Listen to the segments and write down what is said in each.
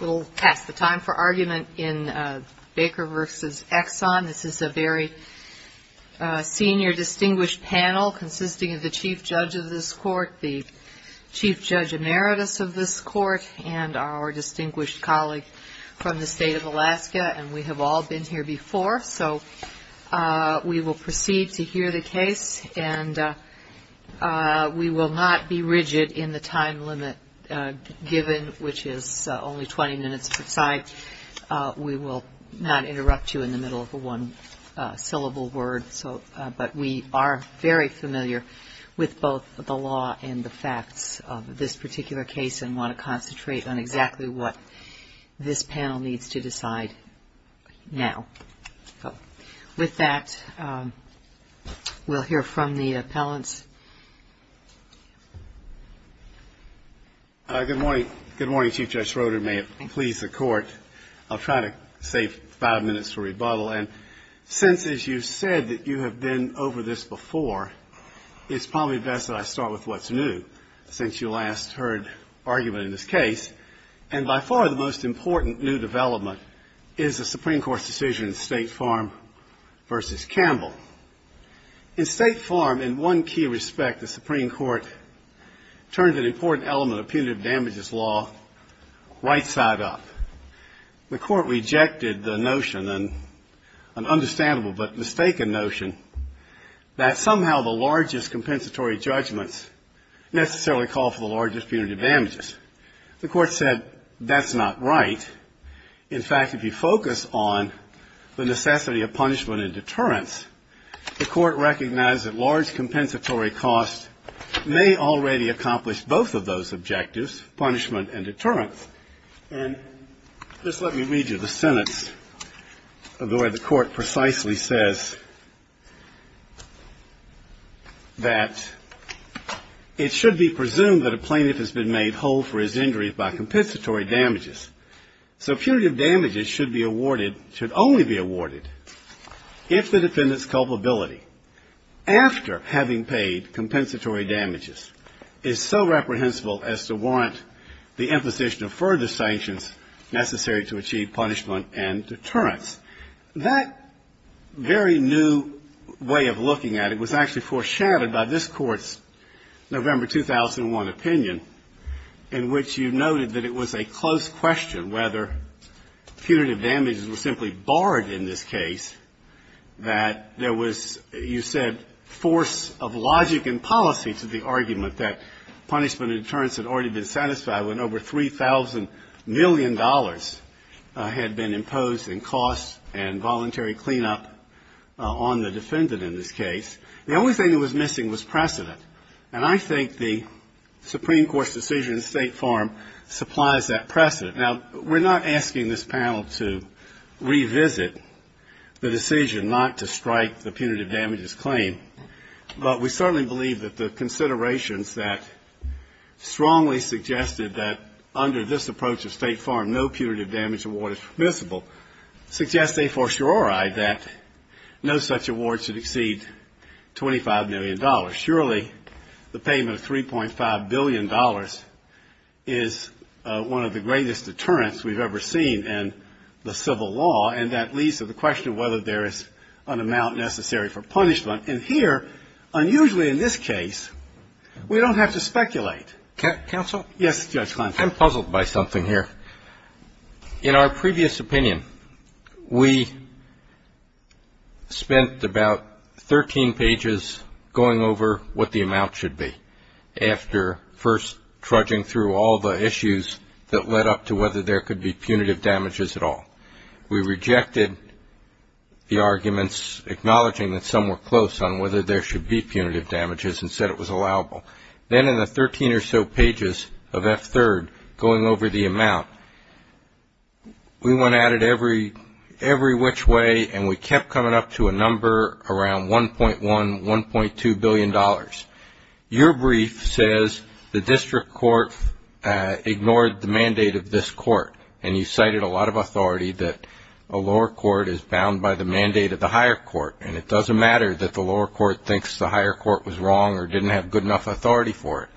We'll pass the time for argument in Baker v. Exxon. This is a very senior distinguished panel consisting of the chief judge of this court, the chief judge emeritus of this court, and our distinguished colleague from the state of Alaska. And we have all been here before. So we will proceed to hear the case. And we will not be rigid in the time limit given, which is only 20 minutes per side. We will not interrupt you in the middle of a one-syllable word. But we are very familiar with both the law and the facts of this particular case and want to concentrate on exactly what this panel needs to decide now. With that, we'll hear from the appellants. Good morning. Good morning, Chief Judge Schroeder. May it please the court. I'll try to save five minutes for rebuttal. And since, as you said, that you have been over this before, it's probably best that I start with what's new, since you last heard argument in this case. And by far, the most important new development is the Supreme Court's decision in State Farm v. Campbell. In State Farm, in one key respect, the Supreme Court turned an important element of punitive damages law right side up. The court rejected the notion and an understandable but mistaken notion that somehow the largest compensatory judgments necessarily call for the largest punitive damages. The court said, that's not right. In fact, if you focus on the necessity of punishment and deterrence, the court recognized that large compensatory costs may already accomplish both of those objectives, punishment and deterrence. And just let me read you the sentence of the way the court precisely says that, it should be presumed that a plaintiff has been made whole for his injuries by compensatory damages. So punitive damages should be awarded, should only be awarded, if the defendant's culpability after having paid compensatory damages is so reprehensible as to warrant the imposition of further sanctions necessary to achieve punishment and deterrence. That very new way of looking at it was actually foreshadowed by this court's November 2001 opinion, in which you noted that it was a close question whether punitive damages were simply barred in this case, that there was, you said, force of logic and policy to the argument that punishment and deterrence had already been satisfied when over $3,000 million had been imposed in costs and voluntary cleanup on the defendant in this case. The only thing that was missing was precedent. And I think the Supreme Court's decision in State Farm supplies that precedent. Now, we're not asking this panel to revisit the decision not to strike the punitive damages claim, but we certainly believe that the considerations that strongly suggested that under this approach of State Farm no punitive damage award is permissible, suggest a fortiori that no such award should exceed $25 million. Surely, the payment of $3.5 billion is one of the greatest deterrence we've ever seen in the civil law. And that leads to the question of whether there is an amount necessary for punishment. And here, unusually in this case, we don't have to speculate. Counsel? Yes, Judge Kleinsch. I'm puzzled by something here. In our previous opinion, we spent about 13 pages going over what the amount should be after first trudging through all the issues that led up to whether there could be punitive damages at all. We rejected the arguments, acknowledging that some were close on whether there should be punitive damages and said it was allowable. Then in the 13 or so pages of F-3rd, going over the amount, we went at it every which way and we kept coming up to a number around $1.1, $1.2 billion. Your brief says the district court ignored the mandate of this court. And you cited a lot of authority that a lower court is bound by the mandate of the higher court. And it doesn't matter that the lower court thinks the higher court was wrong or didn't have good enough authority for it.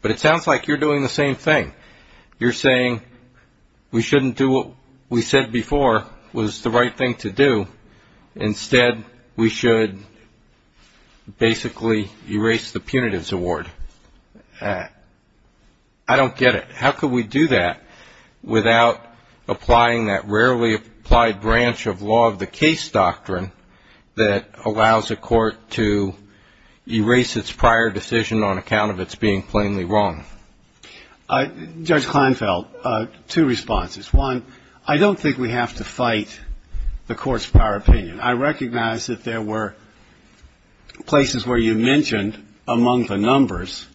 But it sounds like you're doing the same thing. You're saying we shouldn't do what we said before was the right thing to do. Instead, we should basically erase the punitives award. I don't get it. How could we do that without applying that rarely applied branch of law of the case doctrine that allows a court to erase its prior decision on account of its being plainly wrong? Judge Kleinfeld, two responses. One, I don't think we have to fight the court's prior opinion. I recognize that there were places where you mentioned, among the numbers,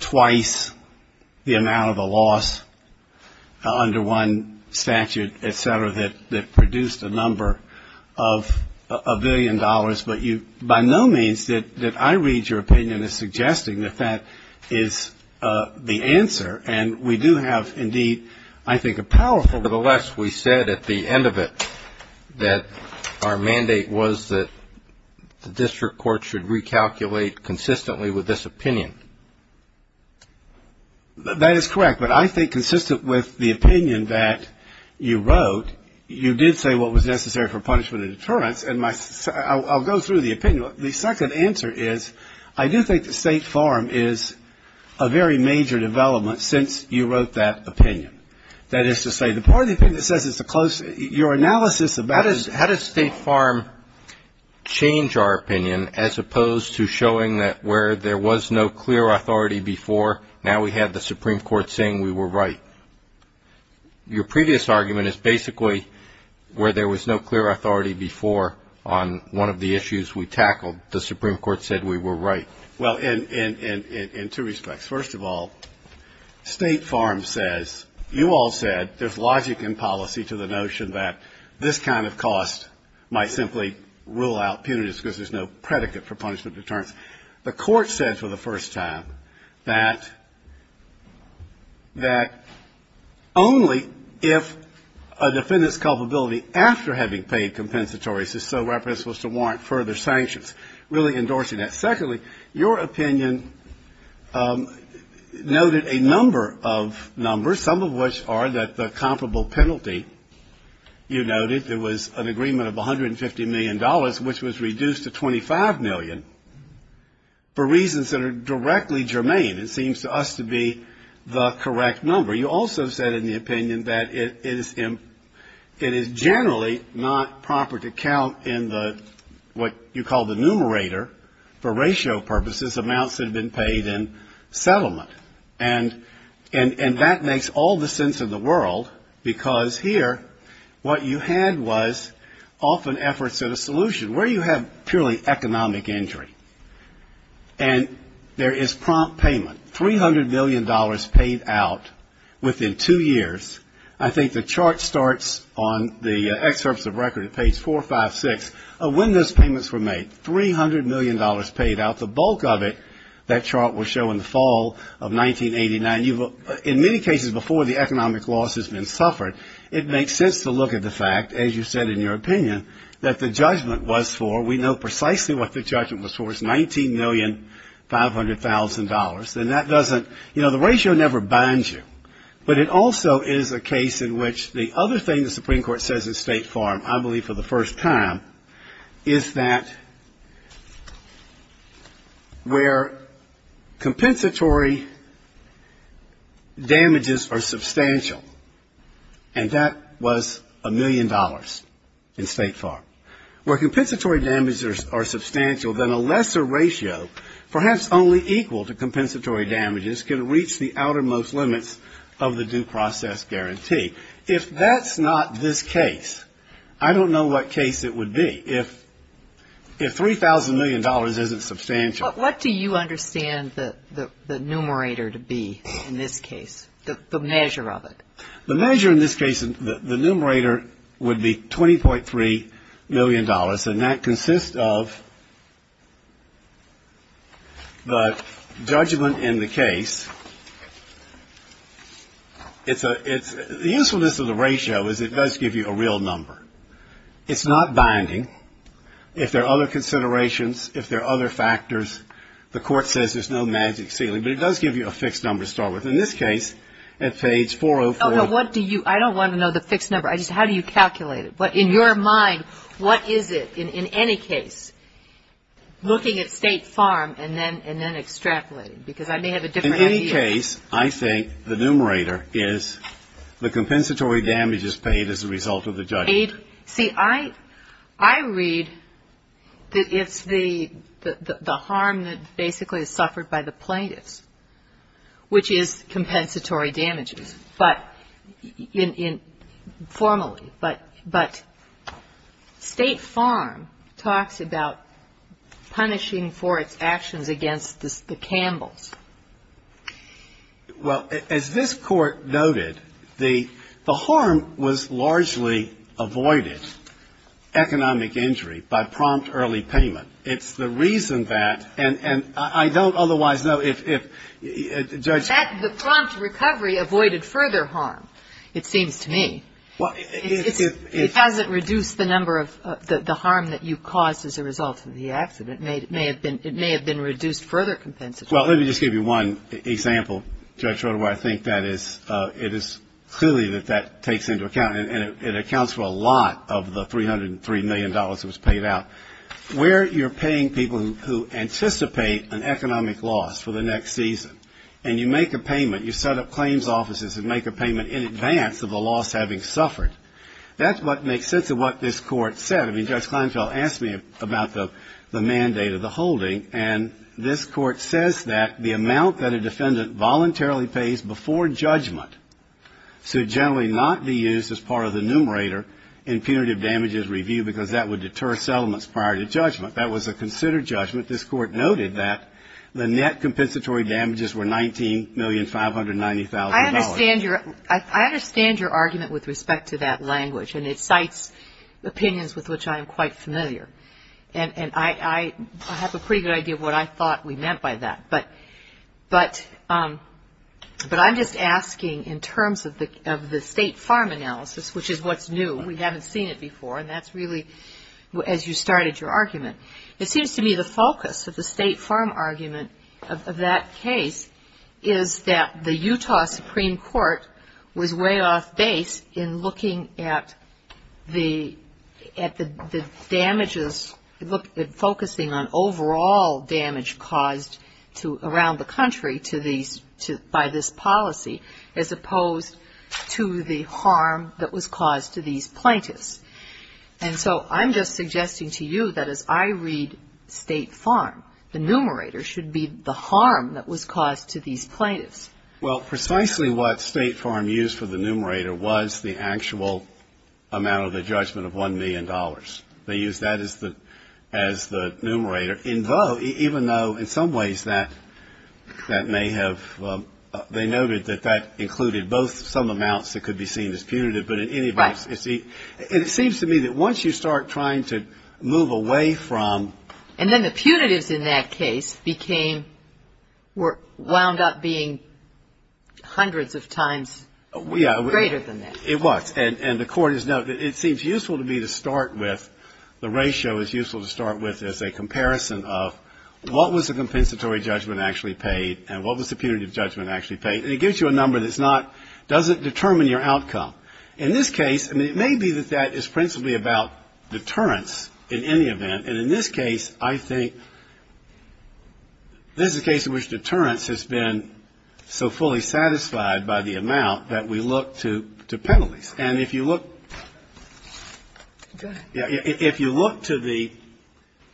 twice the amount of a loss under one statute, et cetera, that produced a number of a billion dollars. But by no means did I read your opinion as suggesting that that is the answer. And we do have, indeed, I think a powerful. Nevertheless, we said at the end of it that our mandate was that the district court should recalculate consistently with this opinion. That is correct. But I think consistent with the opinion that you wrote, you did say what was necessary for punishment and deterrence. And I'll go through the opinion. The second answer is, I do think the State Farm is a very major development since you wrote that opinion. That is to say, the part of the opinion that says it's a close, your analysis of that is. How does State Farm change our opinion, as opposed to showing that where there was no clear authority before, now we have the Supreme Court saying we were right? Your previous argument is basically where there was no clear authority before on one of the issues we tackled. The Supreme Court said we were right. Well, in two respects. First of all, State Farm says, you all said, there's logic in policy to the notion that this kind of cost might simply rule out punitive because there's no predicate for punishment and deterrence. The court said for the first time that only if a defendant's culpability after having paid compensatory is so reprehensible as to warrant further sanctions, really endorsing that. Secondly, your opinion noted a number of numbers, some of which are that the comparable penalty you noted, there was an agreement of $150 million, which was reduced to $25 million for reasons that are directly germane. It seems to us to be the correct number. You also said in the opinion that it is generally not proper to count in what you call the numerator for ratio purposes amounts that have been paid in settlement. And that makes all the sense in the world because here what you had was often efforts at a solution where you have purely economic injury. And there is prompt payment. $300 million paid out within two years. I think the chart starts on the excerpts of record at page 456 of when those payments were made. $300 million paid out. The bulk of it, that chart will show in the fall of 1989. In many cases before the economic loss has been suffered, it makes sense to look at the fact, as you said in your opinion, that the judgment was for, we know precisely what the judgment was for, is $19,500,000. And that doesn't, you know, the ratio never binds you. But it also is a case in which the other thing the Supreme Court says in State Farm, I believe for the first time, is that where compensatory damages are substantial, and that was $1 million in State Farm, where compensatory damages are substantial, then a lesser ratio, perhaps only equal to compensatory damages, can reach the outermost limits of the due process guarantee. If that's not this case, I don't know what case it would be. If $3,000 million isn't substantial. What do you understand the numerator to be in this case? The measure of it? The measure in this case, the numerator would be $20.3 million. And that consists of the judgment in the case. The usefulness of the ratio is it does give you a real number. It's not binding. If there are other considerations, if there are other factors, the court says there's no magic ceiling. But it does give you a fixed number to start with. In this case, at page 404. Oh, no, what do you, I don't want to know the fixed number. I just, how do you calculate it? What, in your mind, what is it, in any case, looking at State Farm and then extrapolating? Because I may have a different idea. In any case, I think the numerator is the compensatory damages paid as a result of the judgment. See, I read that it's the harm that basically is suffered by the plaintiffs, which is compensatory damages. But, formally, but State Farm talks about punishing for its actions against the Campbells. Well, as this Court noted, the harm was largely avoided, economic injury, by prompt early payment. It's the reason that, and I don't otherwise know if Judge ---- That the prompt recovery avoided further harm, it seems to me. Well, if ---- It hasn't reduced the number of, the harm that you caused as a result of the accident. It may have been reduced further compensatory. Well, let me just give you one example, Judge Schroeder, where I think that is, it is clearly that that takes into account, and it accounts for a lot of the $303 million that was paid out. Where you're paying people who anticipate an economic loss for the next season, and you make a payment, you set up claims offices and make a payment in advance of the loss having suffered, that's what makes sense of what this Court said. I mean, Judge Kleinfeld asked me about the mandate of the holding, and this Court says that the amount that a defendant voluntarily pays before judgment should generally not be used as part of the numerator in punitive damages review, because that would deter settlements prior to judgment. That was a considered judgment. This Court noted that the net compensatory damages were $19,590,000. I understand your, I understand your argument with respect to that language, and it cites opinions with which I am quite familiar. And I have a pretty good idea of what I thought we meant by that. But I'm just asking in terms of the State Farm analysis, which is what's new. We haven't seen it before, and that's really as you started your argument. It seems to me the focus of the State Farm argument of that case is that the Utah Supreme Court was way off base in looking at the damages, focusing on overall damage caused around the country by this policy, as opposed to the harm that was caused to these plaintiffs. And so I'm just suggesting to you that as I read State Farm, the numerator should be the harm that was caused to these plaintiffs. Well, precisely what State Farm used for the numerator was the actual amount of the judgment of $1 million. They used that as the numerator, even though in some ways that may have, they noted that that included both some amounts that could be seen as punitive, but in any event, it seems to me that once you start trying to move away from And then the punitives in that case became, were wound up being hundreds of times greater than that. It was, and the court has noted that it seems useful to me to start with, the ratio is useful to start with as a comparison of what was the compensatory judgment actually paid, and what was the punitive judgment actually paid, and it gives you a number that's not, doesn't determine your outcome. In this case, I mean, it may be that that is principally about deterrence in any event, and in this case, I think, this is a case in which deterrence has been so fully satisfied by the amount that we look to penalties, and if you look to the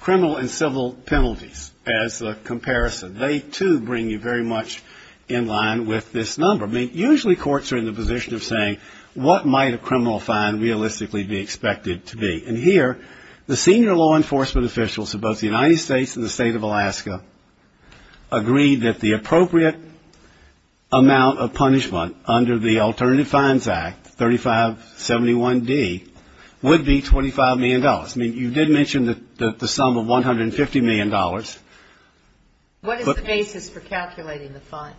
criminal and civil penalties as a comparison, they too bring you very much in line with this number. I mean, usually courts are in the position of saying, what might a criminal fine realistically be expected to be? And here, the senior law enforcement officials of both the United States and the state of Alaska agreed that the appropriate amount of punishment under the Alternative Fines Act, 3571D, would be $25 million. I mean, you did mention the sum of $150 million. What is the basis for calculating the fine?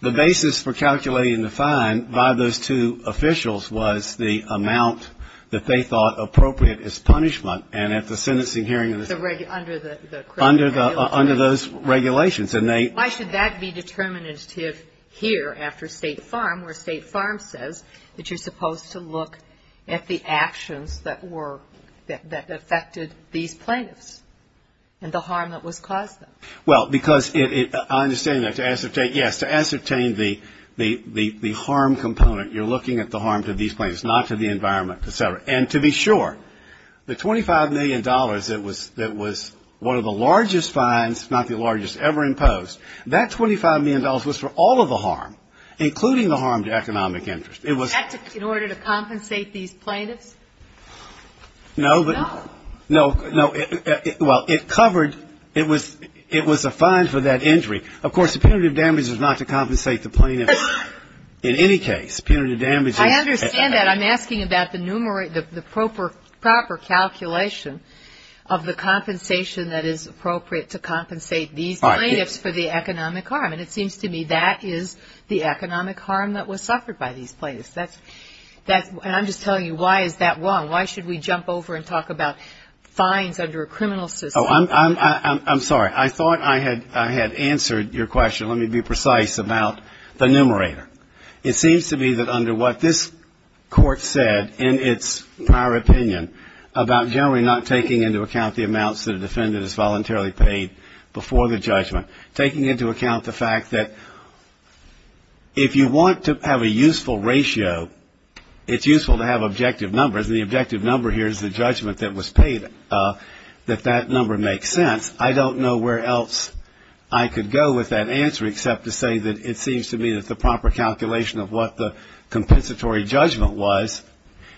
The basis for calculating the fine by those two officials was the amount that they thought appropriate as punishment, and at the sentencing hearing in the state. Under the criminal penalty. Under those regulations, and they. Why should that be determinative here after State Farm, where State Farm says that you're supposed to look at the actions that were, that affected these plaintiffs, and the harm that was caused to them? Well, because I understand that to ascertain, yes, to ascertain the harm component, you're looking at the harm to these plaintiffs, not to the environment, et cetera. And to be sure, the $25 million that was one of the largest fines, if not the largest ever imposed, that $25 million was for all of the harm, including the harm to economic interest. It was. In order to compensate these plaintiffs? No, but. No. No, no, well, it covered, it was a fine for that injury. Of course, the punitive damage was not to compensate the plaintiffs in any case. Punitive damage is. I understand that. I'm asking about the proper calculation of the compensation that is appropriate to compensate these plaintiffs for the economic harm. And it seems to me that is the economic harm that was suffered by these plaintiffs. That's, and I'm just telling you, why is that wrong? Why should we jump over and talk about fines under a criminal system? Oh, I'm sorry. I thought I had answered your question. Let me be precise about the numerator. It seems to me that under what this court said in its prior opinion about generally not taking into account the amounts that a defendant has voluntarily paid before the judgment, taking into account the fact that if you want to have a useful ratio, it's useful to have objective numbers. And the objective number here is the judgment that was paid, that that number makes sense. I don't know where else I could go with that answer except to say that it seems to me that the proper calculation of what the compensatory judgment was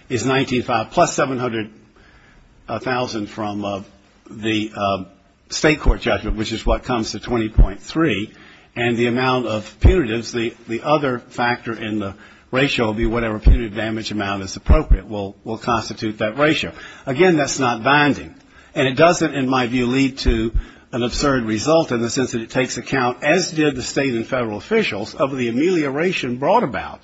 is $19,500, plus $700,000 from the state court judgment, which is what comes to $20.3, and the amount of punitives, the other factor in the ratio would be whatever punitive damage amount is appropriate will constitute that ratio. Again, that's not binding. And it doesn't, in my view, lead to an absurd result in the sense that it takes account, as did the state and federal officials, of the amelioration brought about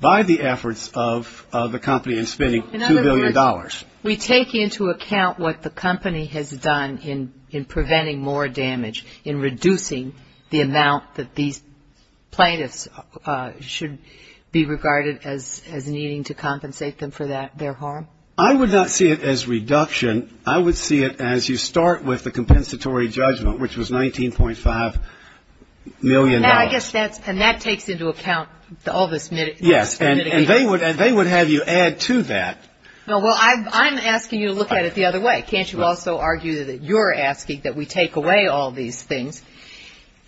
by the efforts of the company in spending. In other words, we take into account what the company has done in preventing more damage, in reducing the amount that these plaintiffs should be regarded as needing to compensate them for their harm? I would not see it as reduction. I would see it as you start with the compensatory judgment, which was $19.5 million. Now, I guess that's, and that takes into account all this mitigating. Yes, and they would have you add to that. No, well, I'm asking you to look at it the other way. Can't you also argue that you're asking that we take away all these things,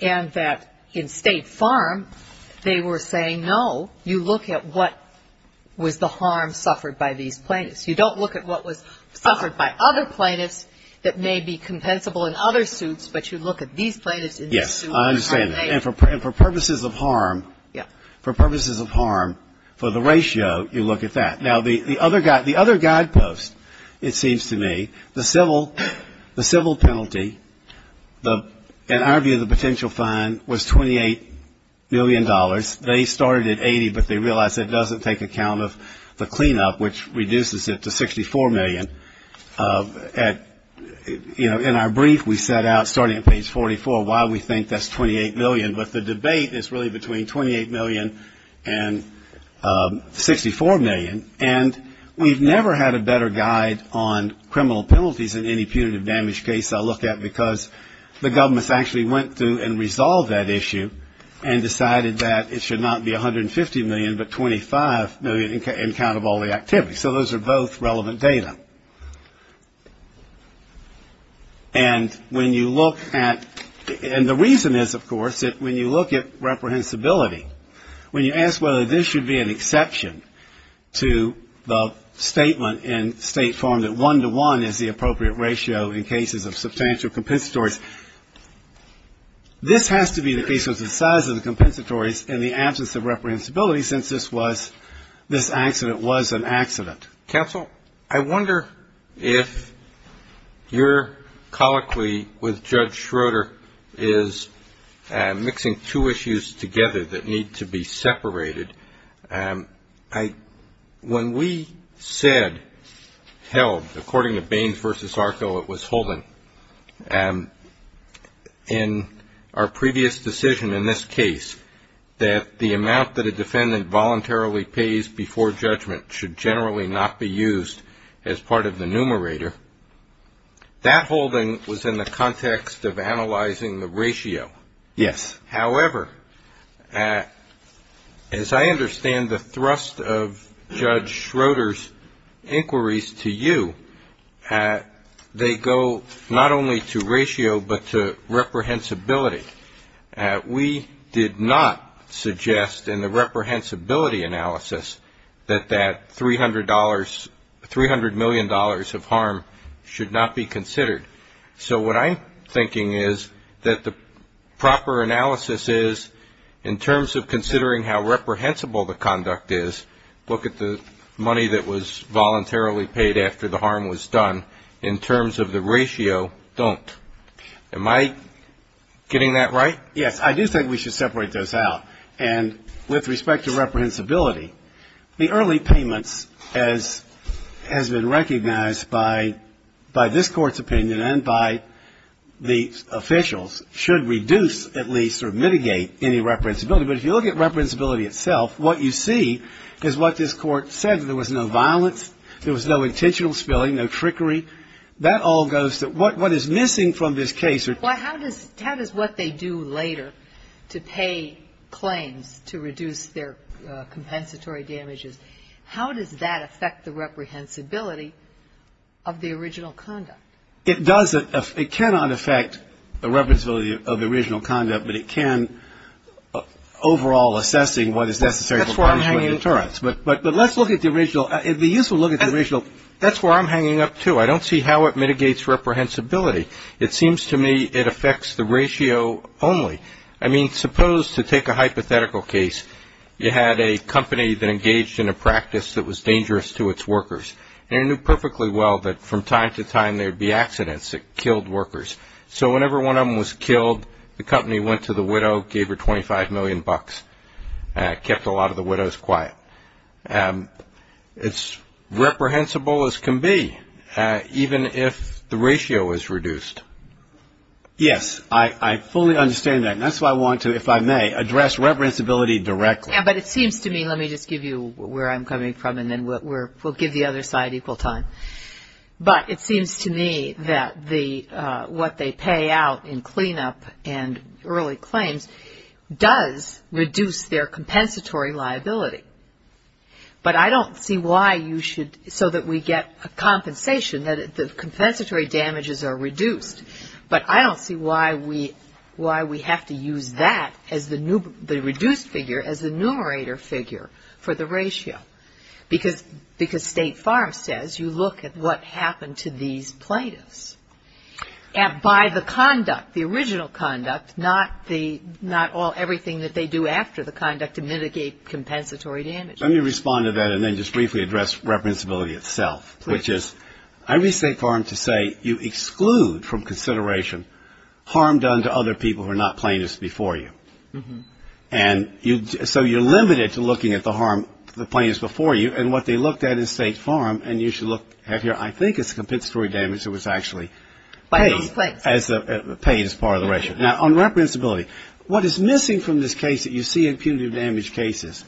and that in State Farm, they were saying, no, you look at what was the harm suffered by these plaintiffs. You don't look at what was suffered by other plaintiffs that may be compensable in other suits, but you look at these plaintiffs in this suit. Yes, I understand that. And for purposes of harm, for purposes of harm, for the ratio, you look at that. Now, the other guidepost, it seems to me, the civil penalty, in our view, the potential fine was $28 million. They started at 80, but they realized that doesn't take account of the cleanup, which reduces it to 64 million. And, you know, in our brief, we set out, starting at page 44, why we think that's $28 million. But the debate is really between $28 million and $64 million. And we've never had a better guide on criminal penalties in any punitive damage case I look at, because the governments actually went through and resolved that issue and decided that it should not be $150 million, but $25 million in count of all the activity. So those are both relevant data. And when you look at, and the reason is, of course, that when you look at reprehensibility, when you ask whether this should be an exception to the statement in state form that one-to-one is the appropriate ratio in cases of substantial compensatories, this has to be the case because of the size of the compensatories and the absence of reprehensibility, since this was, this accident was an accident. Counsel, I wonder if your colloquy with Judge Schroeder is mixing two issues together that need to be separated. When we said, held, according to Baines v. Arco, it was Holden, in our previous decision in this case, that the amount that a defendant voluntarily pays before judgment should generally not be used as part of the numerator, that holding was in the context of analyzing the ratio. Yes. However, as I understand the thrust of Judge Schroeder's inquiries to you, they go not only to ratio, but to reprehensibility. We did not suggest in the reprehensibility analysis that that $300 million of harm should not be considered. So what I'm thinking is that the proper analysis is, in terms of considering how reprehensible the conduct is, look at the money that was voluntarily paid after the harm was done, in terms of the ratio, don't. Am I getting that right? Yes, I do think we should separate those out. And with respect to reprehensibility, the early payments, as has been recognized by this Court's opinion and by the officials, should reduce at least, or mitigate any reprehensibility. But if you look at reprehensibility itself, what you see is what this Court said, that there was no violence, there was no intentional spilling, no trickery, that all goes to what is missing from this case. Well, how does what they do later to pay claims to reduce their compensatory damages, how does that affect the reprehensibility of the original conduct? It does. It cannot affect the reprehensibility of the original conduct, but it can overall assessing what is necessary for punishment and deterrence. But let's look at the original. That's where I'm hanging up, too. I don't see how it mitigates reprehensibility. It seems to me it affects the ratio only. I mean, suppose to take a hypothetical case, you had a company that engaged in a practice that was dangerous to its workers. And it knew perfectly well that from time to time there would be accidents that killed workers. So whenever one of them was killed, the company went to the widow, gave her 25 million bucks, kept a lot of the widows quiet. It's reprehensible as can be, even if the ratio is reduced. Yes, I fully understand that, and that's why I want to, if I may, address reprehensibility directly. Yeah, but it seems to me, let me just give you where I'm coming from, and then we'll give the other side equal time. But it seems to me that what they pay out in cleanup and early claims does reduce their compensatory liability. But I don't see why you should, so that we get compensation, that the compensatory damages are reduced. But I don't see why we have to use that as the reduced figure as the numerator figure for the ratio. Because State Farm says, you look at what happened to these plaintiffs. And by the conduct, the original conduct, not everything that they do after the conduct to mitigate compensatory damages. Let me respond to that and then just briefly address reprehensibility itself, which is, I reach State Farm to say you exclude from consideration harm done to other people who are not plaintiffs before you. And so you're limited to looking at the harm to the plaintiffs before you. And what they looked at in State Farm, and you should look at here, I think it's compensatory damage that was actually paid as part of the ratio. Now, on reprehensibility, what is missing from this case that you see in punitive damage cases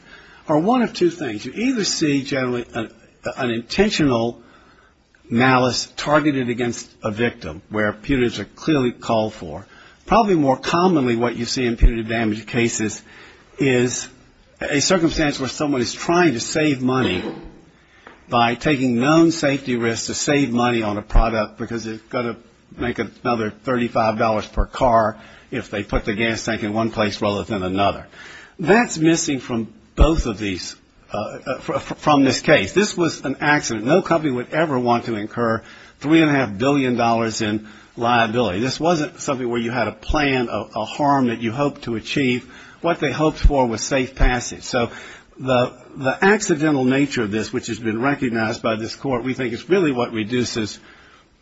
are one of two things. You either see generally an intentional malice targeted against a victim where punitives are clearly called for. Probably more commonly what you see in punitive damage cases is a circumstance where someone is trying to save money by taking known safety risks to save money on a product because they've got to make another $35 per car if they put the gas tank in one place rather than another. That's missing from both of these, from this case. This was an accident. No company would ever want to incur $3.5 billion in liability. This wasn't something where you had a plan, a harm that you hoped to achieve. What they hoped for was safe passage. So the accidental nature of this, which has been recognized by this Court, we think is really what reduces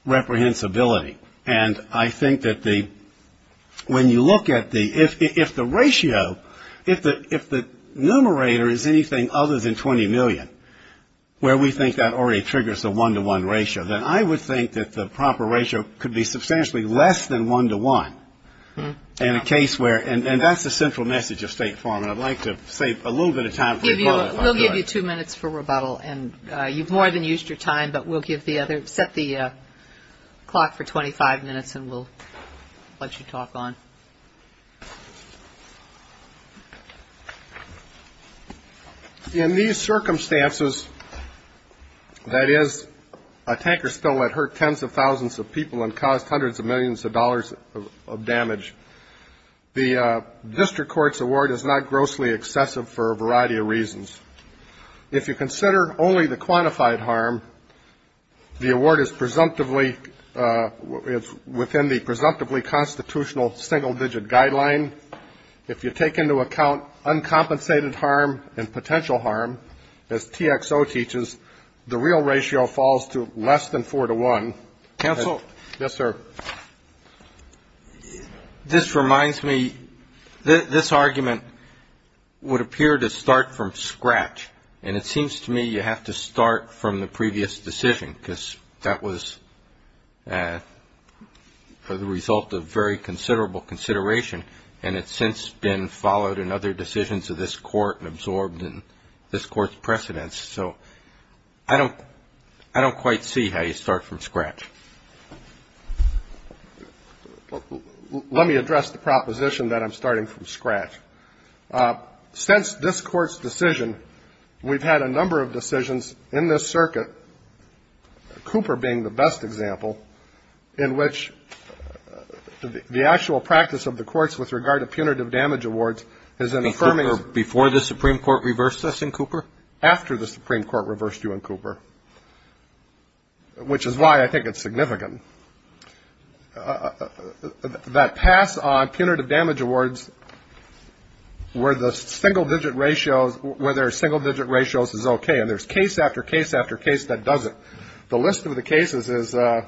reprehensibility. And I think that the, when you look at the, if the ratio, if the numerator is anything other than $20 million, where we think that already triggers a one-to-one ratio, then I would think that the proper ratio could be substantially less than one-to-one in a case where, and that's the central message of State Farm, and I'd like to save a little bit of time. We'll give you two minutes for rebuttal, and you've more than used your time, but we'll give the other, set the clock for 25 minutes and we'll let you talk on. In these circumstances, that is, a tanker spill that hurt tens of thousands of people and caused hundreds of millions of dollars of damage, the district court's award is not grossly excessive for a variety of reasons. If you consider only the quantified harm, the award is presumptively, it's within the presumptively constitutional single-digit guideline. If you take into account uncompensated harm and potential harm, as TXO teaches, the real ratio falls to less than four-to-one. Counsel? Yes, sir. This reminds me, this argument would appear to start from scratch, and it seems to me you have to start from the previous decision, because that was the result of very considerable consideration, and it's since been followed in other decisions of this court and absorbed in this court's precedence, so I don't quite see how you start from scratch. Let me address the proposition that I'm starting from scratch. Since this court's decision, we've had a number of decisions in this circuit, Cooper being the best example, in which the actual practice of the courts with regard to punitive damage awards is an affirming... Before the Supreme Court reversed us in Cooper? After the Supreme Court reversed you in Cooper, which is why I think it's significant. ...that pass on punitive damage awards where the single-digit ratios, where there are single-digit ratios is okay, and there's case after case after case that doesn't. The list of the cases is Planned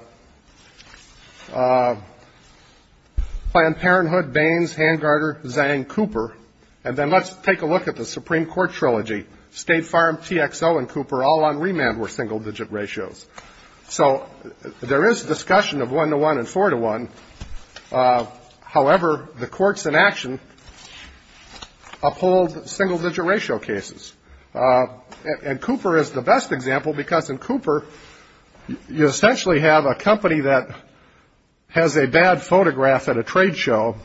Parenthood, Baines, Hangarder, Zhang, Cooper, and then let's take a look at the Supreme Court trilogy. State Farm, TXO, and Cooper all on remand were single-digit ratios. So there is discussion of one-to-one and four-to-one. However, the courts in action uphold single-digit ratio cases. And Cooper is the best example because in Cooper, you essentially have a company that has a bad photograph at a trade show,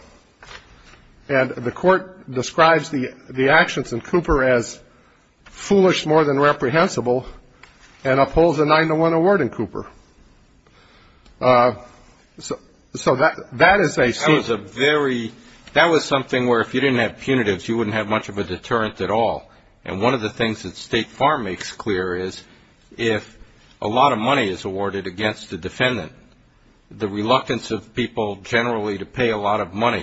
and the court describes the actions in Cooper as foolish more than reprehensible, and upholds a nine-to-one award in Cooper. So that is a... That was a very... That was something where if you didn't have punitives, you wouldn't have much of a deterrent at all. And one of the things that State Farm makes clear is if a lot of money is awarded against the defendant, the reluctance of people generally to pay a lot of money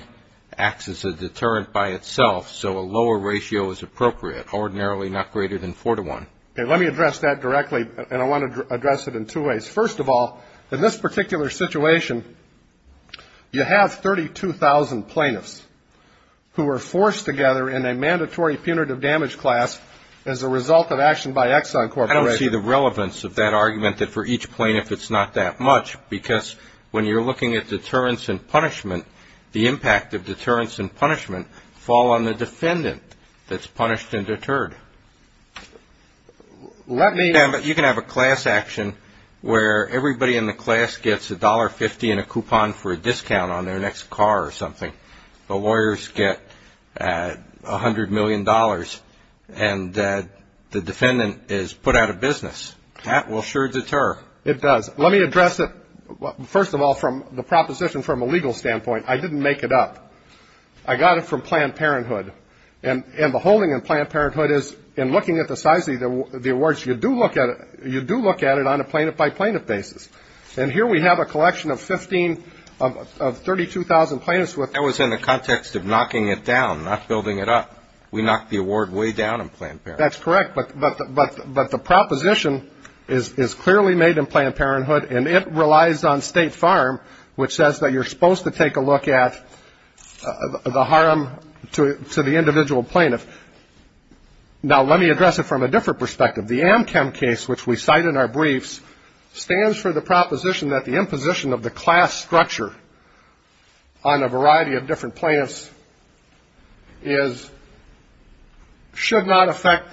acts as a deterrent by itself, so a lower ratio is appropriate, ordinarily not greater than four-to-one. Let me address that directly, and I want to address it in two ways. First of all, in this particular situation, you have 32,000 plaintiffs who were forced together in a mandatory punitive damage class as a result of action by Exxon Corporation. I don't see the relevance of that argument that for each plaintiff it's not that much, because when you're looking at deterrence and punishment, the impact of deterrence and punishment fall on the defendant that's punished and deterred. Let me... Yeah, but you can have a class action where everybody in the class gets a $1.50 and a coupon for a discount on their next car or something. The lawyers get $100 million, and the defendant is put out of business. That will sure deter. It does. Let me address it... First of all, from the proposition from a legal standpoint, I didn't make it up. I got it from Planned Parenthood. And the holding in Planned Parenthood is, in looking at the size of the awards, you do look at it on a plaintiff-by-plaintiff basis. And here we have a collection of 15... of 32,000 plaintiffs with... That was in the context of knocking it down, not building it up. We knocked the award way down in Planned Parenthood. That's correct, but the proposition is clearly made in Planned Parenthood, and it relies on State Farm, which says that you're supposed to take a look at the harm to the individual plaintiff. Now, let me address it from a different perspective. The Amchem case, which we cite in our briefs, stands for the proposition that the imposition of the class structure on a variety of different plaintiffs is... should not affect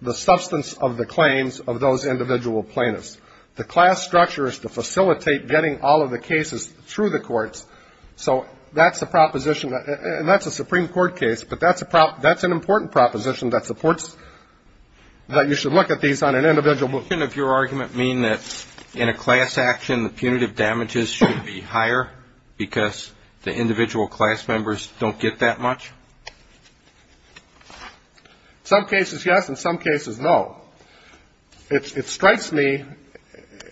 the substance of the claims of those individual plaintiffs. The class structure is to facilitate getting all of the cases through the courts. So that's the proposition, and that's a Supreme Court case, but that's an important proposition that supports that you should look at these on an individual basis. Doesn't your argument mean that in a class action, the punitive damages should be higher because the individual class members don't get that much? In some cases, yes. In some cases, no. It strikes me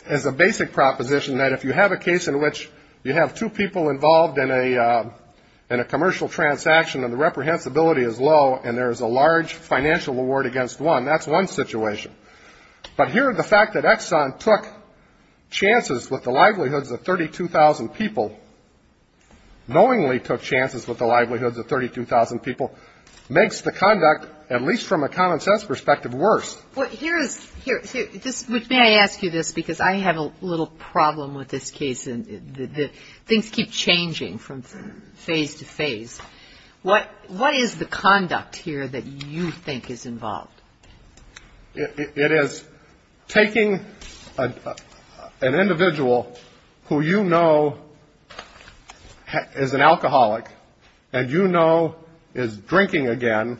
as a basic proposition that if you have a case in which you have two people involved in a commercial transaction and the reprehensibility is low and there is a large financial reward against one, that's one situation. But here, the fact that Exxon took chances with the livelihoods of 32,000 people, knowingly took chances with the livelihoods of 32,000 people, makes the conduct, at least from a common-sense perspective, worse. Well, here is... May I ask you this? Because I have a little problem with this case. Things keep changing from phase to phase. What is the conduct here that you think is involved? It is taking an individual who you know is an alcoholic and you know is drinking again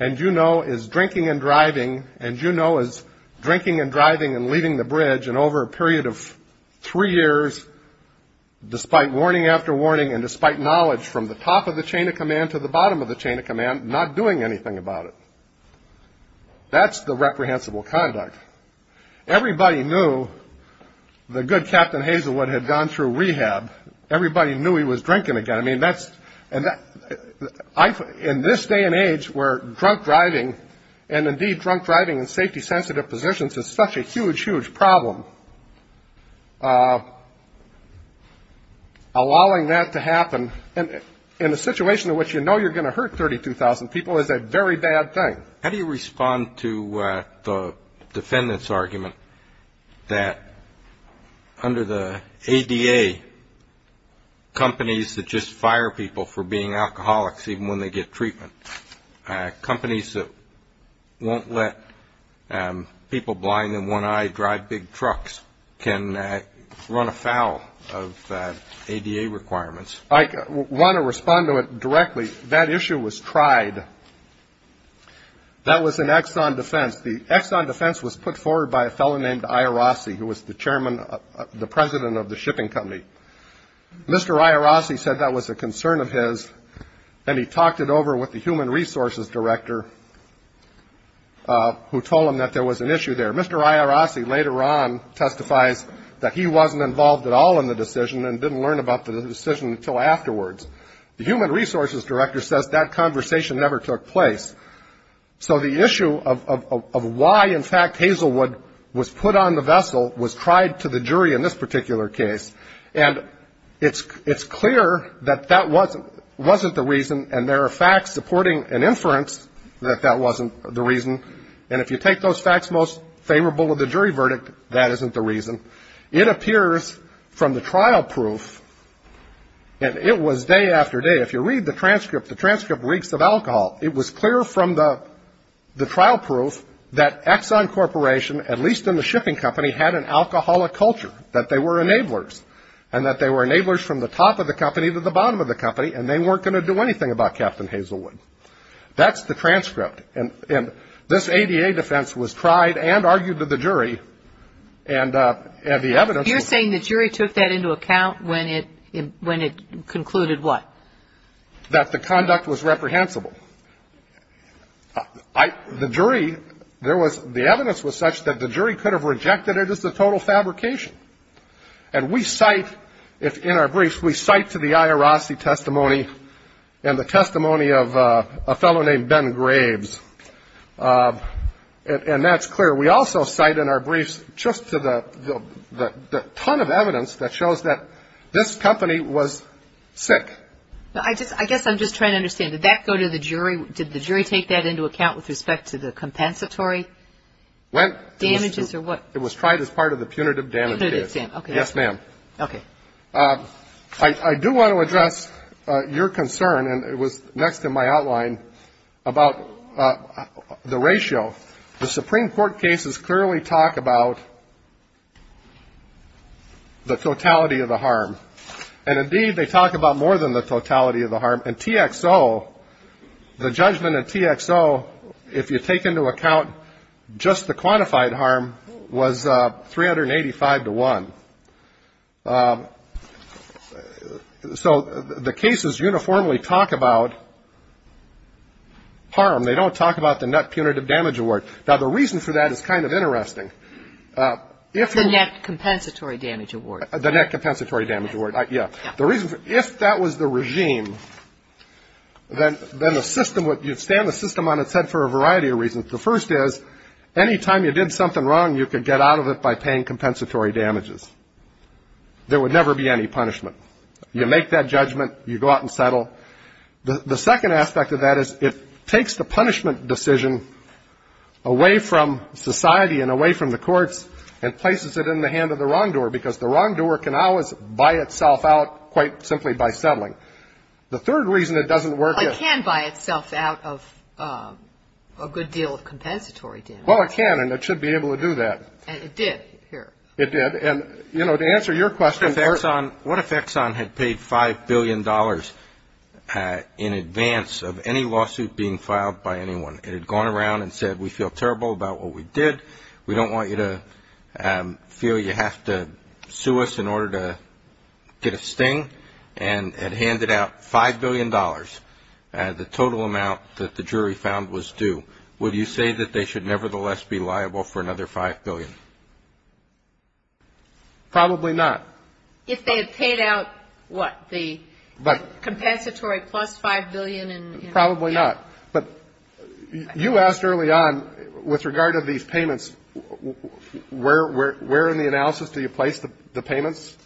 and you know is drinking and driving and you know is drinking and driving and leaving the bridge and over a period of three years despite warning after warning and despite knowledge from the top of the chain of command to the bottom of the chain of command not doing anything about it. That's the reprehensible conduct. Everybody knew the good Captain Hazelwood had gone through rehab. Everybody knew he was drinking again. In this day and age where drunk driving and indeed drunk driving in safety-sensitive positions is such a huge, huge problem allowing that to happen in a situation in which you know you're going to hurt 32,000 people is a very bad thing. How do you respond to the defendant's argument that under the ADA companies that just fire people for being alcoholics even when they get treatment companies that won't let people blind and one-eyed drive big trucks can run afoul of ADA requirements? I want to respond to it directly. That issue was tried. That was an Exxon defense. The Exxon defense was put forward by a fellow named Iorossi who was the chairman the president of the shipping company. Mr. Iorossi said that was a he talked it over with the human resources director who told him that there was an issue there. Mr. Iorossi later on testifies that he wasn't involved at all in the decision and didn't learn about the decision until afterwards. The human resources director says that conversation never took place. So the issue of why in fact Hazelwood was put on the vessel was tried to the jury in this particular case and it's clear that that wasn't the reason and there are facts supporting an inference that that wasn't the reason and if you take those facts most favorable of the jury verdict, that isn't the reason. It appears from the trial proof and it was day after day if you read the transcript, the transcript reeks of alcohol. It was clear from the the trial proof that Exxon Corporation, at least in the shipping company, had an alcoholic culture that they were enablers and that they were enablers from the top of the company to the bottom of the company and they weren't going to do anything about Captain Hazelwood. That's the transcript and this ADA defense was tried and argued to the jury and the evidence You're saying the jury took that into account when it concluded what? That the conduct was reprehensible. The jury the evidence was such that the jury could have rejected it as a total fabrication and we cite, in our briefs we cite to the IRRC testimony and the testimony of a fellow named Ben Graves and that's clear. We also cite in our briefs just to the ton of evidence that shows that this company was sick. I guess I'm just trying to understand did that go to the jury? Did the jury take that into account with respect to the compensatory damages or what? It was tried as part of the punitive damage case Yes ma'am. I do want to address your concern and it was next in my outline about the ratio the Supreme Court cases clearly talk about the totality of the harm and indeed they talk about more than the totality of the harm and TXO the judgment of TXO if you take into account just the quantified harm was 385 to 1 so the cases uniformly talk about harm. They don't talk about the net punitive damage award. Now the reason for that is kind of interesting The net compensatory damage award The net compensatory damage award If that was the regime then You stand the system on its head for a variety of reasons The first is anytime you did something wrong you could get out of it by paying compensatory damages There would never be any punishment You make that judgment, you go out and settle The second aspect of that is it takes the punishment decision away from society and away from the courts and places it in the hand of the wrongdoer because the wrongdoer can always buy itself out quite simply by settling The third reason it doesn't work It can buy itself out of a good deal of compensatory damage. Well it can and it should be able to do that And it did It did and to answer your question What if Exxon had paid 5 billion dollars in advance of any lawsuit being filed by anyone It had gone around and said we feel terrible about what we did, we don't want you to feel you have to sue us in order to get a sting and had handed out 5 billion dollars the total amount that the jury found was due. Would you say that they should nevertheless be liable for another 5 billion? Probably not If they had paid out the compensatory plus 5 billion Probably not You asked early on with regard to these payments Where in the analysis do you place the payments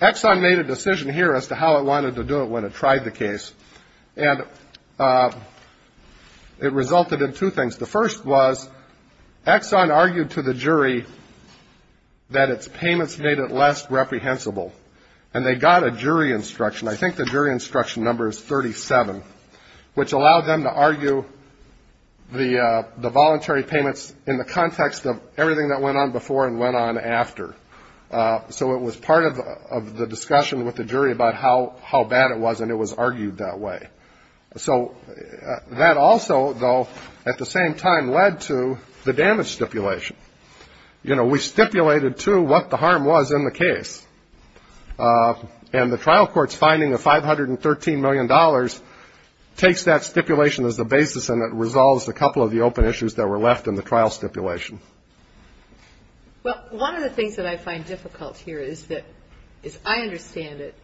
Exxon made a decision here as to how it wanted to do it when it tried the case It resulted in two things. The first was Exxon argued to the jury that its payments made it less reprehensible and they got a jury instruction I think the jury instruction number is 37 which allowed them to argue the voluntary payments in the context of everything that went on before and went on after It was part of the discussion with the jury about how bad it was and it was argued that way That also at the same time led to the damage stipulation We stipulated to what the harm was in the case and the trial court's finding of 513 million dollars takes that stipulation as the basis and it resolves a couple of the open stipulation Well, one of the things that I find difficult here is that, as I understand it,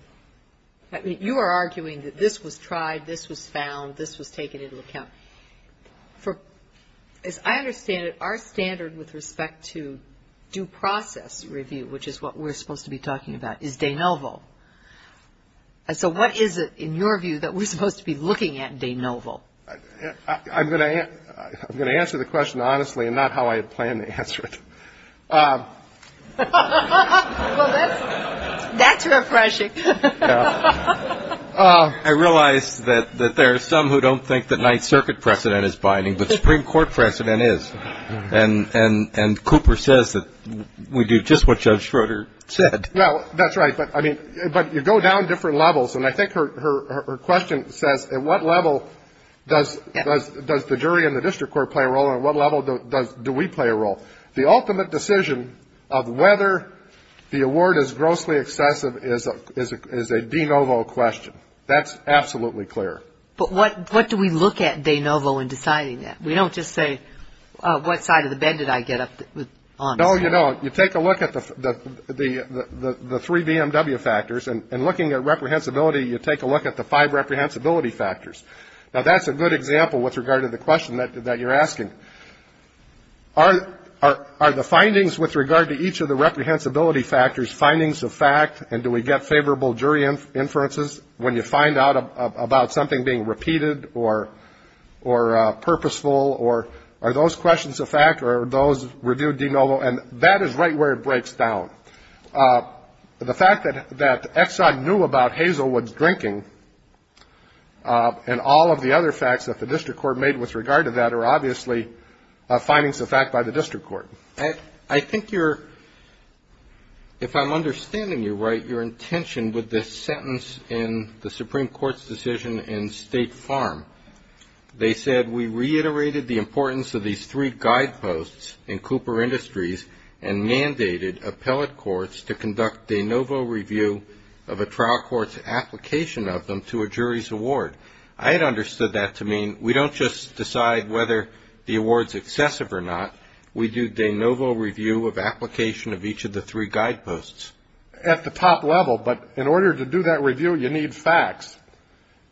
you are arguing that this was tried, this was found, this was taken into account As I understand it, our standard with respect to due process review, which is what we're supposed to be talking about is de novo So what is it, in your view, that we're supposed to be looking at de novo I'm going to answer the question honestly and not how I plan to answer it laughter That's refreshing laughter I realize that there are some who don't think that 9th Circuit precedent is binding but Supreme Court precedent is and Cooper says that we do just what Judge Schroeder said That's right, but you go down different levels and I think her question says at what level does the jury and the district court play a role and at what level do we play a role The ultimate decision of whether the award is grossly excessive is a de novo question That's absolutely clear But what do we look at de novo in deciding that We don't just say, what side of the bed did I get up on No, you take a look at the 3 BMW factors and looking at reprehensibility you take a look at the 5 reprehensibility factors Now that's a good example with regard to the question that you're asking Are the findings with regard to each of the reprehensibility factors, findings of fact and do we get favorable jury inferences when you find out about something being repeated or purposeful or are those questions of fact or are those reviewed de novo and that is right where it breaks down The fact that Exxon knew about Hazelwood's drinking and all of the other facts that the district court made with regard to that are obviously findings of fact by the district court I think you're if I'm understanding you right your intention with this sentence in the Supreme Court's decision in State Farm They said, we reiterated the importance of these 3 guideposts in Cooper Industries and mandated appellate courts to conduct de novo review of a trial court's application of them to a jury's award I had understood that to mean we don't just decide whether the award's excessive or not, we do de novo review of application of each of the 3 guideposts At the top level, but in order to do that review you need facts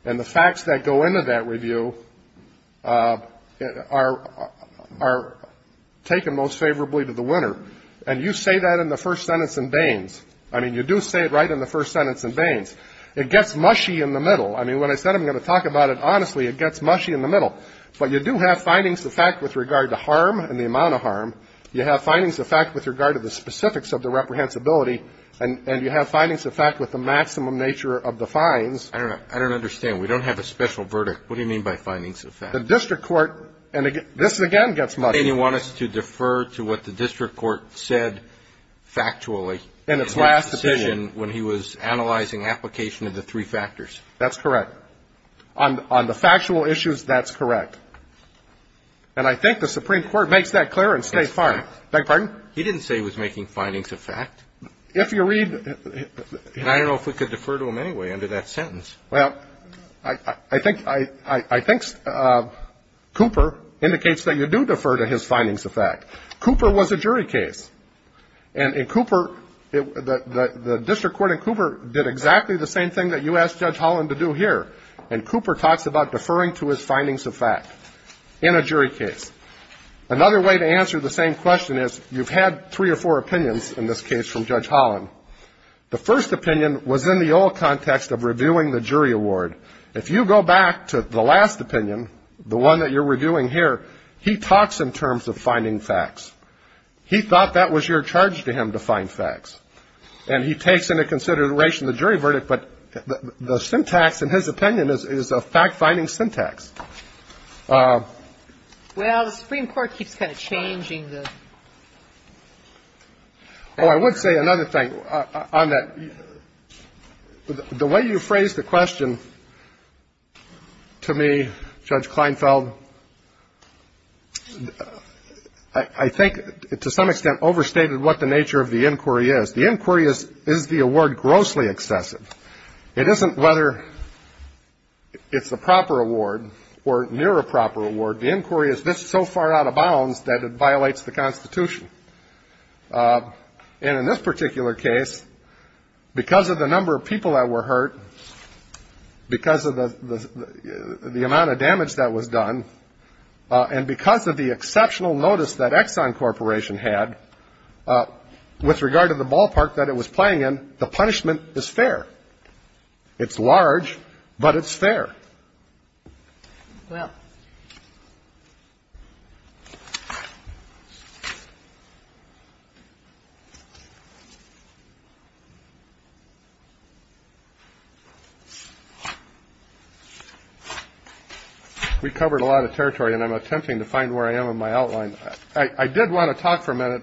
and the facts that go into that review are taken most favorably to the winner and you say that in the first sentence in Baines I mean, you do say it right in the first sentence in Baines. It gets mushy in the middle I mean, when I said I'm going to talk about it honestly, it gets mushy in the middle but you do have findings of fact with regard to harm and the amount of harm you have findings of fact with regard to the specifics of the reprehensibility and you have findings of fact with the maximum nature of the fines I don't understand, we don't have a special verdict What do you mean by findings of fact? This again gets mushy You want us to defer to what the district court said factually in its last decision when he was analyzing application of the 3 factors That's correct On the factual issues, that's correct and I think the Supreme Court makes that clear He didn't say he was making findings of fact If you read I don't know if we could defer to him anyway under that sentence I think Cooper indicates that you do defer to his findings of fact Cooper was a jury case and in Cooper the district court in Cooper did exactly the same thing that you asked Judge Holland to do here and Cooper talks about deferring to his findings of fact in a jury case Another way to answer the same question is you've had 3 or 4 opinions in this case from Judge Holland The first opinion was in the old context of reviewing the jury award If you go back to the last opinion the one that you're reviewing here He talks in terms of finding facts He thought that was your charge to him to find facts and he takes into consideration the jury verdict but the syntax in his opinion is a fact-finding syntax Well, the Supreme Court keeps kind of changing Oh, I would say another thing on that the way you phrased the question to me Judge Kleinfeld I think to some extent overstated what the nature of the inquiry is The inquiry is the award grossly excessive It isn't whether it's a proper award or near a proper award The inquiry is so far out of bounds that it violates the Constitution and in this particular case because of the number of people that were hurt because of the amount of damage that was done and because of the exceptional notice that Exxon Corporation had with regard to the ballpark that it was playing in the punishment is fair It's large, but it's fair We covered a lot of territory and I'm attempting to find where I am in my outline I did want to talk for a minute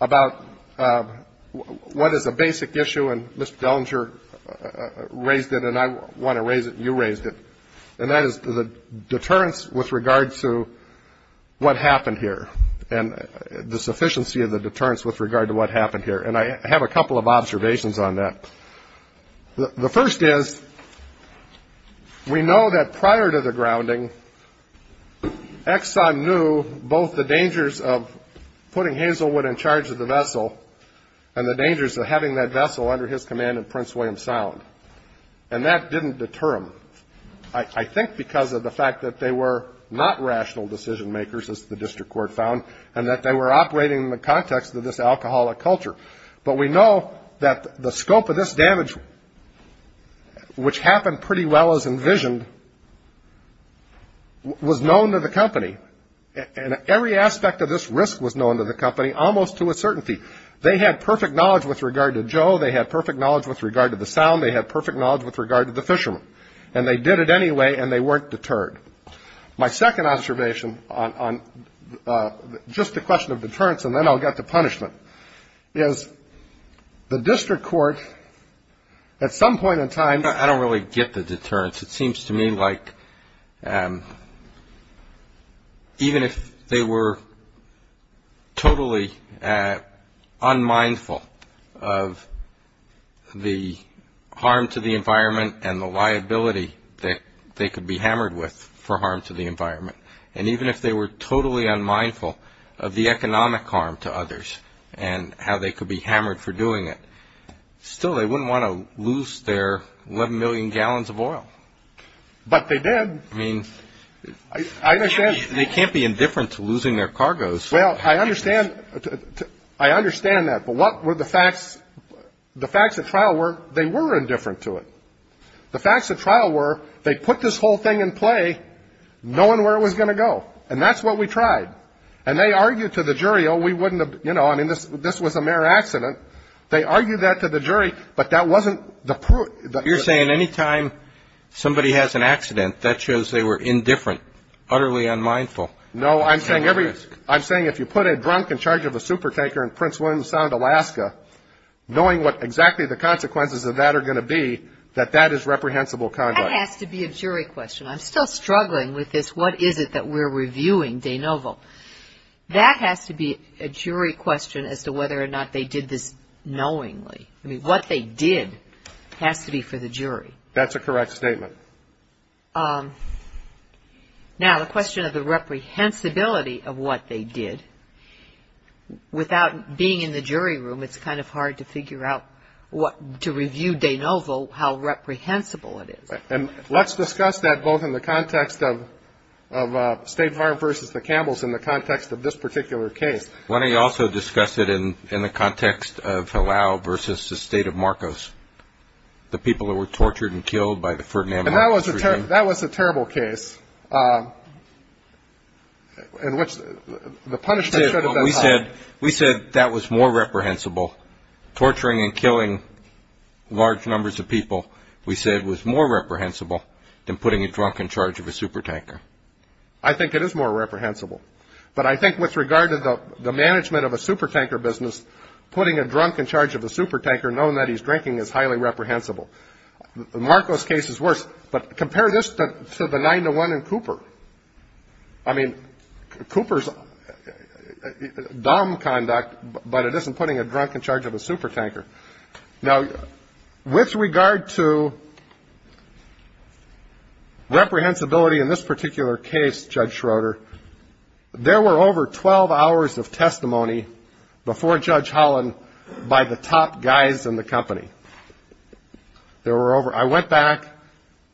about what is a basic issue and Mr. Dellinger raised it and I want to raise it and you raised it and that is the deterrence with regard to what happened here and the sufficiency of the deterrence with regard to what happened here and I have a couple of observations on that The first is we know that prior to the grounding Exxon knew both the dangers of putting Hazelwood in charge of the vessel and the dangers of having that vessel under his command in Prince William Sound and that didn't deter them I think because of the fact that they were not rational decision makers as the district court found and that they were operating in the context of this alcoholic culture but we know that the scope of this damage which happened pretty well as envisioned was known to the company and every aspect of this risk was known to the company, almost to a certainty They had perfect knowledge with regard to Joe, they had perfect knowledge with regard to the sound, they had perfect knowledge with regard to the fishermen and they did it anyway and they weren't deterred My second observation on just the question of deterrence and then I'll get to punishment is the district court at some point in time I don't really get the deterrence it seems to me like even if they were totally unmindful of the harm to the environment and the liability that they could be hammered with for harm to the environment and even if they were totally unmindful of the economic harm to others and how they could be hammered for doing it still they wouldn't want to lose their 11 million gallons of oil But they did They can't be indifferent to losing their cargoes I understand that but what were the facts the facts at trial were they were indifferent to it the facts at trial were they put this whole thing in play knowing where it was going to go and that's what we tried and they argued to the jury this was a mere accident they argued that to the jury but that wasn't You're saying anytime somebody has an accident that shows they were indifferent utterly unmindful No, I'm saying I'm saying if you put a drunk in charge of a super tanker in Prince William Sound, Alaska knowing what exactly the consequences of that are going to be that that is reprehensible conduct That has to be a jury question I'm still struggling with this what is it that we're reviewing? That has to be a jury question as to whether or not they did this knowingly What they did has to be for the jury That's a correct statement Now on the question of the reprehensibility of what they did without being in the jury room it's kind of hard to figure out to review De Novo how reprehensible it is Let's discuss that both in the context of State Farm versus the Campbells in the context of this particular case Why don't you also discuss it in the context of Halau versus the state of Marcos the people who were tortured and killed by the Ferdinand Marcos regime That was a terrible case We said that was more reprehensible torturing and killing large numbers of people was more reprehensible than putting a drunk in charge of a supertanker I think it is more reprehensible but I think with regard to the management of a supertanker business putting a drunk in charge of a supertanker knowing that he's drinking is highly reprehensible Marcos case is worse but compare this to the 9 to 1 in Cooper I mean, Cooper's dumb conduct but it isn't putting a drunk in charge of a supertanker Now with regard to reprehensibility in this particular case Judge Schroeder there were over 12 hours of testimony before Judge Holland by the top guys in the company I went back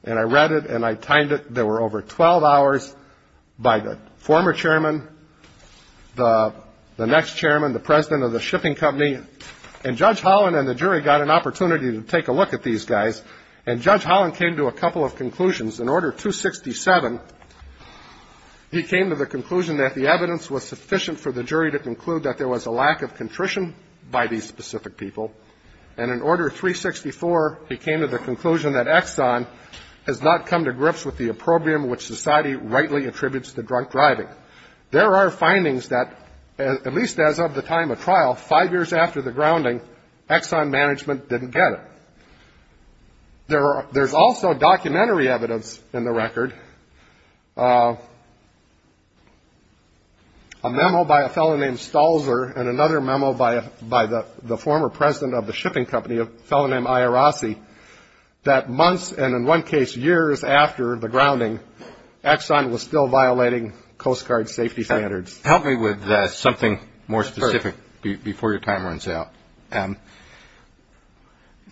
and I read it and I timed it there were over 12 hours by the former chairman the next chairman the president of the shipping company and Judge Holland and the jury got an opportunity to take a look at these guys and Judge Holland came to a couple of conclusions in order 267 he came to the conclusion that the evidence was sufficient for the jury to conclude that there was a lack of contrition by these specific people and in order 364 he came to the conclusion that Exxon has not come to grips with the opprobrium which society rightly attributes to drunk driving there are findings that at least as of the time of trial, five years after the grounding Exxon management didn't get it there are there's also documentary evidence in the record a memo by a fellow named and another memo by the former president of the shipping company a fellow named that months and in one case years after the grounding Exxon was still violating Coast Guard safety standards help me with something more specific before your time runs out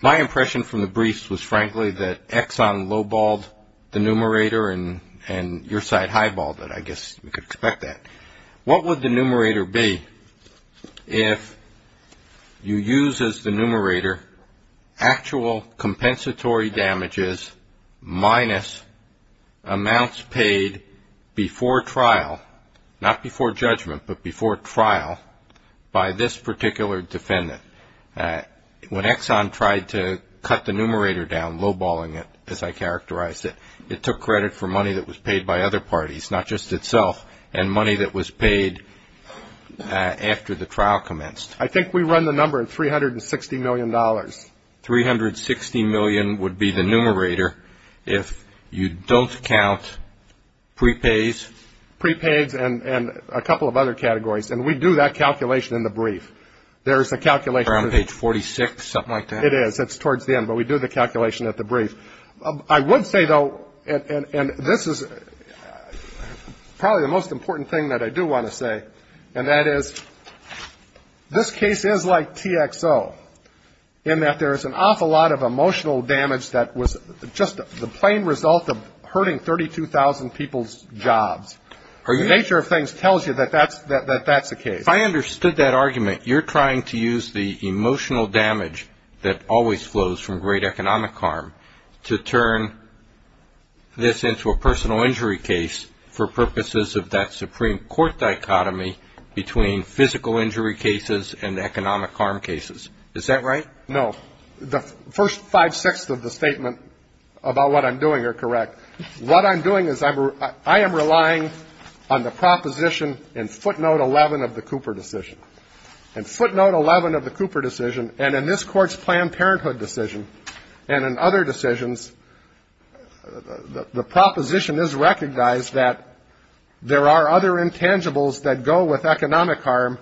my impression from the briefs was frankly that Exxon low-balled the numerator and your side high-balled it, I guess we could expect that what would the numerator be if you use as the numerator actual compensatory damages minus amounts paid before trial not before judgment but before trial by this particular defendant when Exxon tried to cut the numerator down, low-balling it as I characterized it it took credit for money that was paid by other parties not just itself and money that was paid after the trial commenced I think we run the number at $360,000,000 $360,000,000 would be the numerator if you don't count prepays prepays and a couple of other categories and we do that calculation in the brief there's a calculation around page 46, something like that it is, it's towards the end, but we do the calculation at the brief I would say though and this is probably the most important thing that I do want to say and that is this case is like TXO in that there is an awful lot of emotional damage that was just the plain result of hurting 32,000 people's jobs the nature of things tells you that that's the case if I understood that argument, you're trying to use the emotional damage that always flows from great economic harm to turn this into a personal injury case for purposes of that Supreme Court dichotomy between physical injury cases and economic harm cases, is that right? No, the first 5 6ths of the statement about what I'm doing are correct, what I'm doing is I am relying on the proposition in footnote 11 of the Cooper decision in footnote 11 of the Cooper decision and in this court's Planned Parenthood decision and in other decisions the proposition is recognized that there are other intangibles that go with economic harm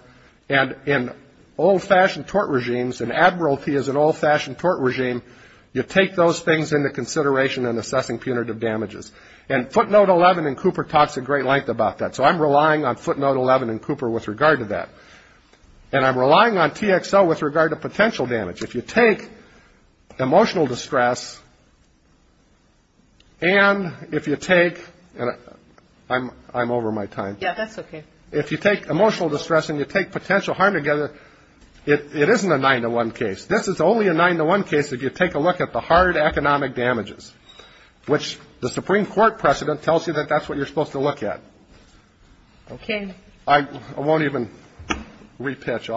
and in old-fashioned tort regimes, and Admiralty is an old-fashioned tort regime, you take those things into consideration in assessing punitive damages, and footnote 11 in Cooper talks a great length about that so I'm relying on footnote 11 in Cooper with regard to that and I'm relying on TXO with regard to potential damage, if you take emotional distress and if you take I'm over my time if you take emotional distress and you take potential harm together it isn't a 9 to 1 case, this is only a 9 to 1 case if you take a look at the hard economic damages which the Supreme Court precedent tells you that that's what you're supposed to look at I won't even re-pitch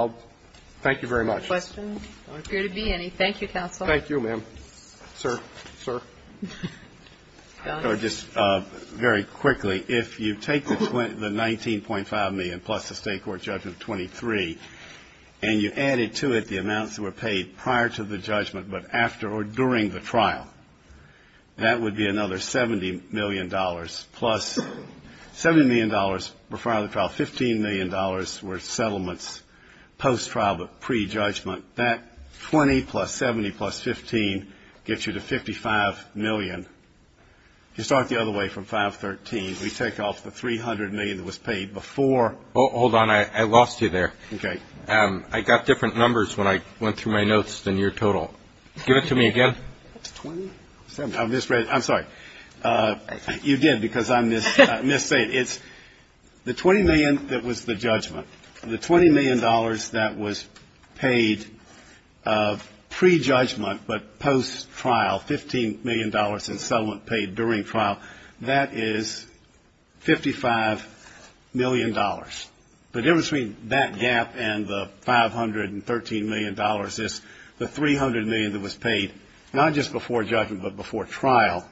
thank you very much thank you counsel thank you ma'am sir very quickly if you take the 19.5 million plus the state court judgment 23 and you added to it the amounts that were paid prior to the judgment but after or during the trial that would be another 70 million dollars plus $15 million were settlements post-trial but pre-judgment that 20 plus 70 plus 15 gets you to 55 million you start the other way from 513 we take off the 300 million that was paid before hold on I lost you there I got different numbers when I went through my notes than your total give it to me again I'm sorry you did because I'm the 20 million dollars that was paid pre-judgment but post-trial 15 million dollars in settlement paid during trial that is 55 million dollars the difference between that gap and the 513 million dollars is the 300 million that was paid not just before judgment but before trial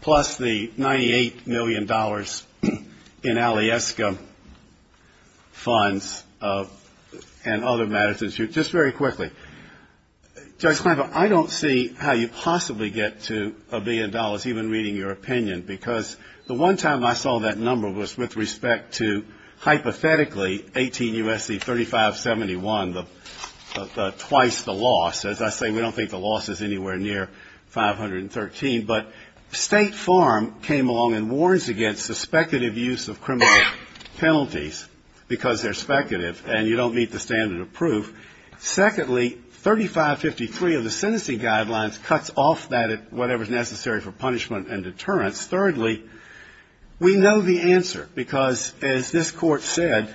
plus the 98 million dollars in alieska funds and other matters very quickly I don't see how you possibly get to a billion dollars even reading your opinion because the one time I saw that number was with respect to hypothetically 18 U.S.C. 3571 twice the loss as I say we don't think the loss is anywhere near 513 but State Farm came along and warns against suspected abuse of criminal penalties because they're speculative and you don't meet the standard of proof secondly 3553 of the sentencing guidelines cuts off that whatever is necessary for punishment and deterrence thirdly we know the answer because as this court said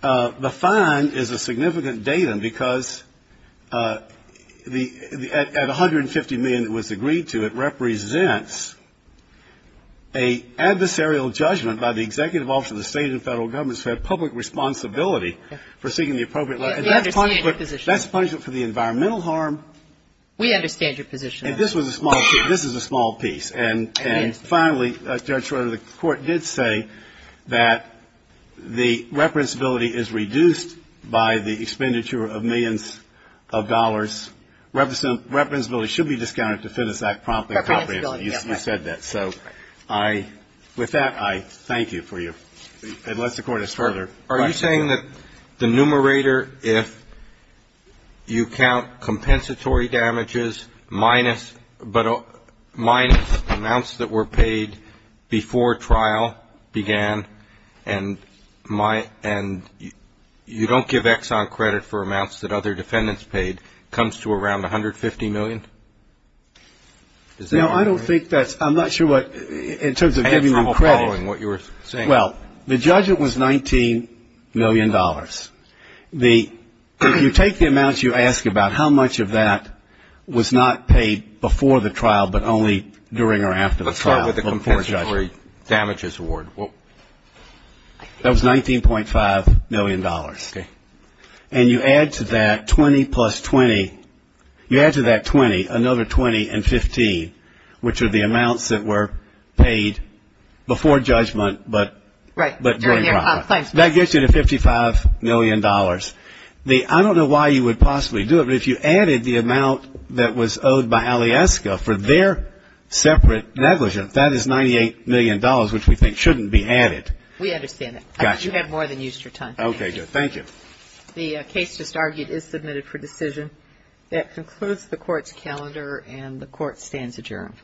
the fine is a significant data because at 150 million it was agreed to it represents a adversarial judgment by the executive office of the state and federal governments for public responsibility for seeking the appropriate that's punishment for the environmental harm we understand your position and this is a small piece and finally Judge Schroeder the court did say that the representability is reduced by the expenditure of millions of dollars representability should be discounted to I said that so I with that I thank you for you unless the court is further are you saying that the numerator if you count compensatory damages minus minus amounts that were paid before trial began and my and you don't give Exxon credit for amounts that other defendants paid comes to around 150 million I don't think that's I'm not sure what in terms of giving them credit well the judge it was 19 million dollars you take the amounts you ask about how much of that was not paid before the trial but only during or after the trial let's start with the compensatory damages award that was 19.5 million dollars and you add to that 20 plus 20 you add to that 20 another 20 and 15 which are the amounts that were paid before judgment but but during trial that gets you to 55 million dollars I don't know why you would possibly do it but if you added the amount that was owed by Alieska for their separate negligence that is 98 million dollars which we think shouldn't be added. We understand that. You have more than used your time. Thank you. The case just argued is That concludes the court's calendar and the court stands adjourned.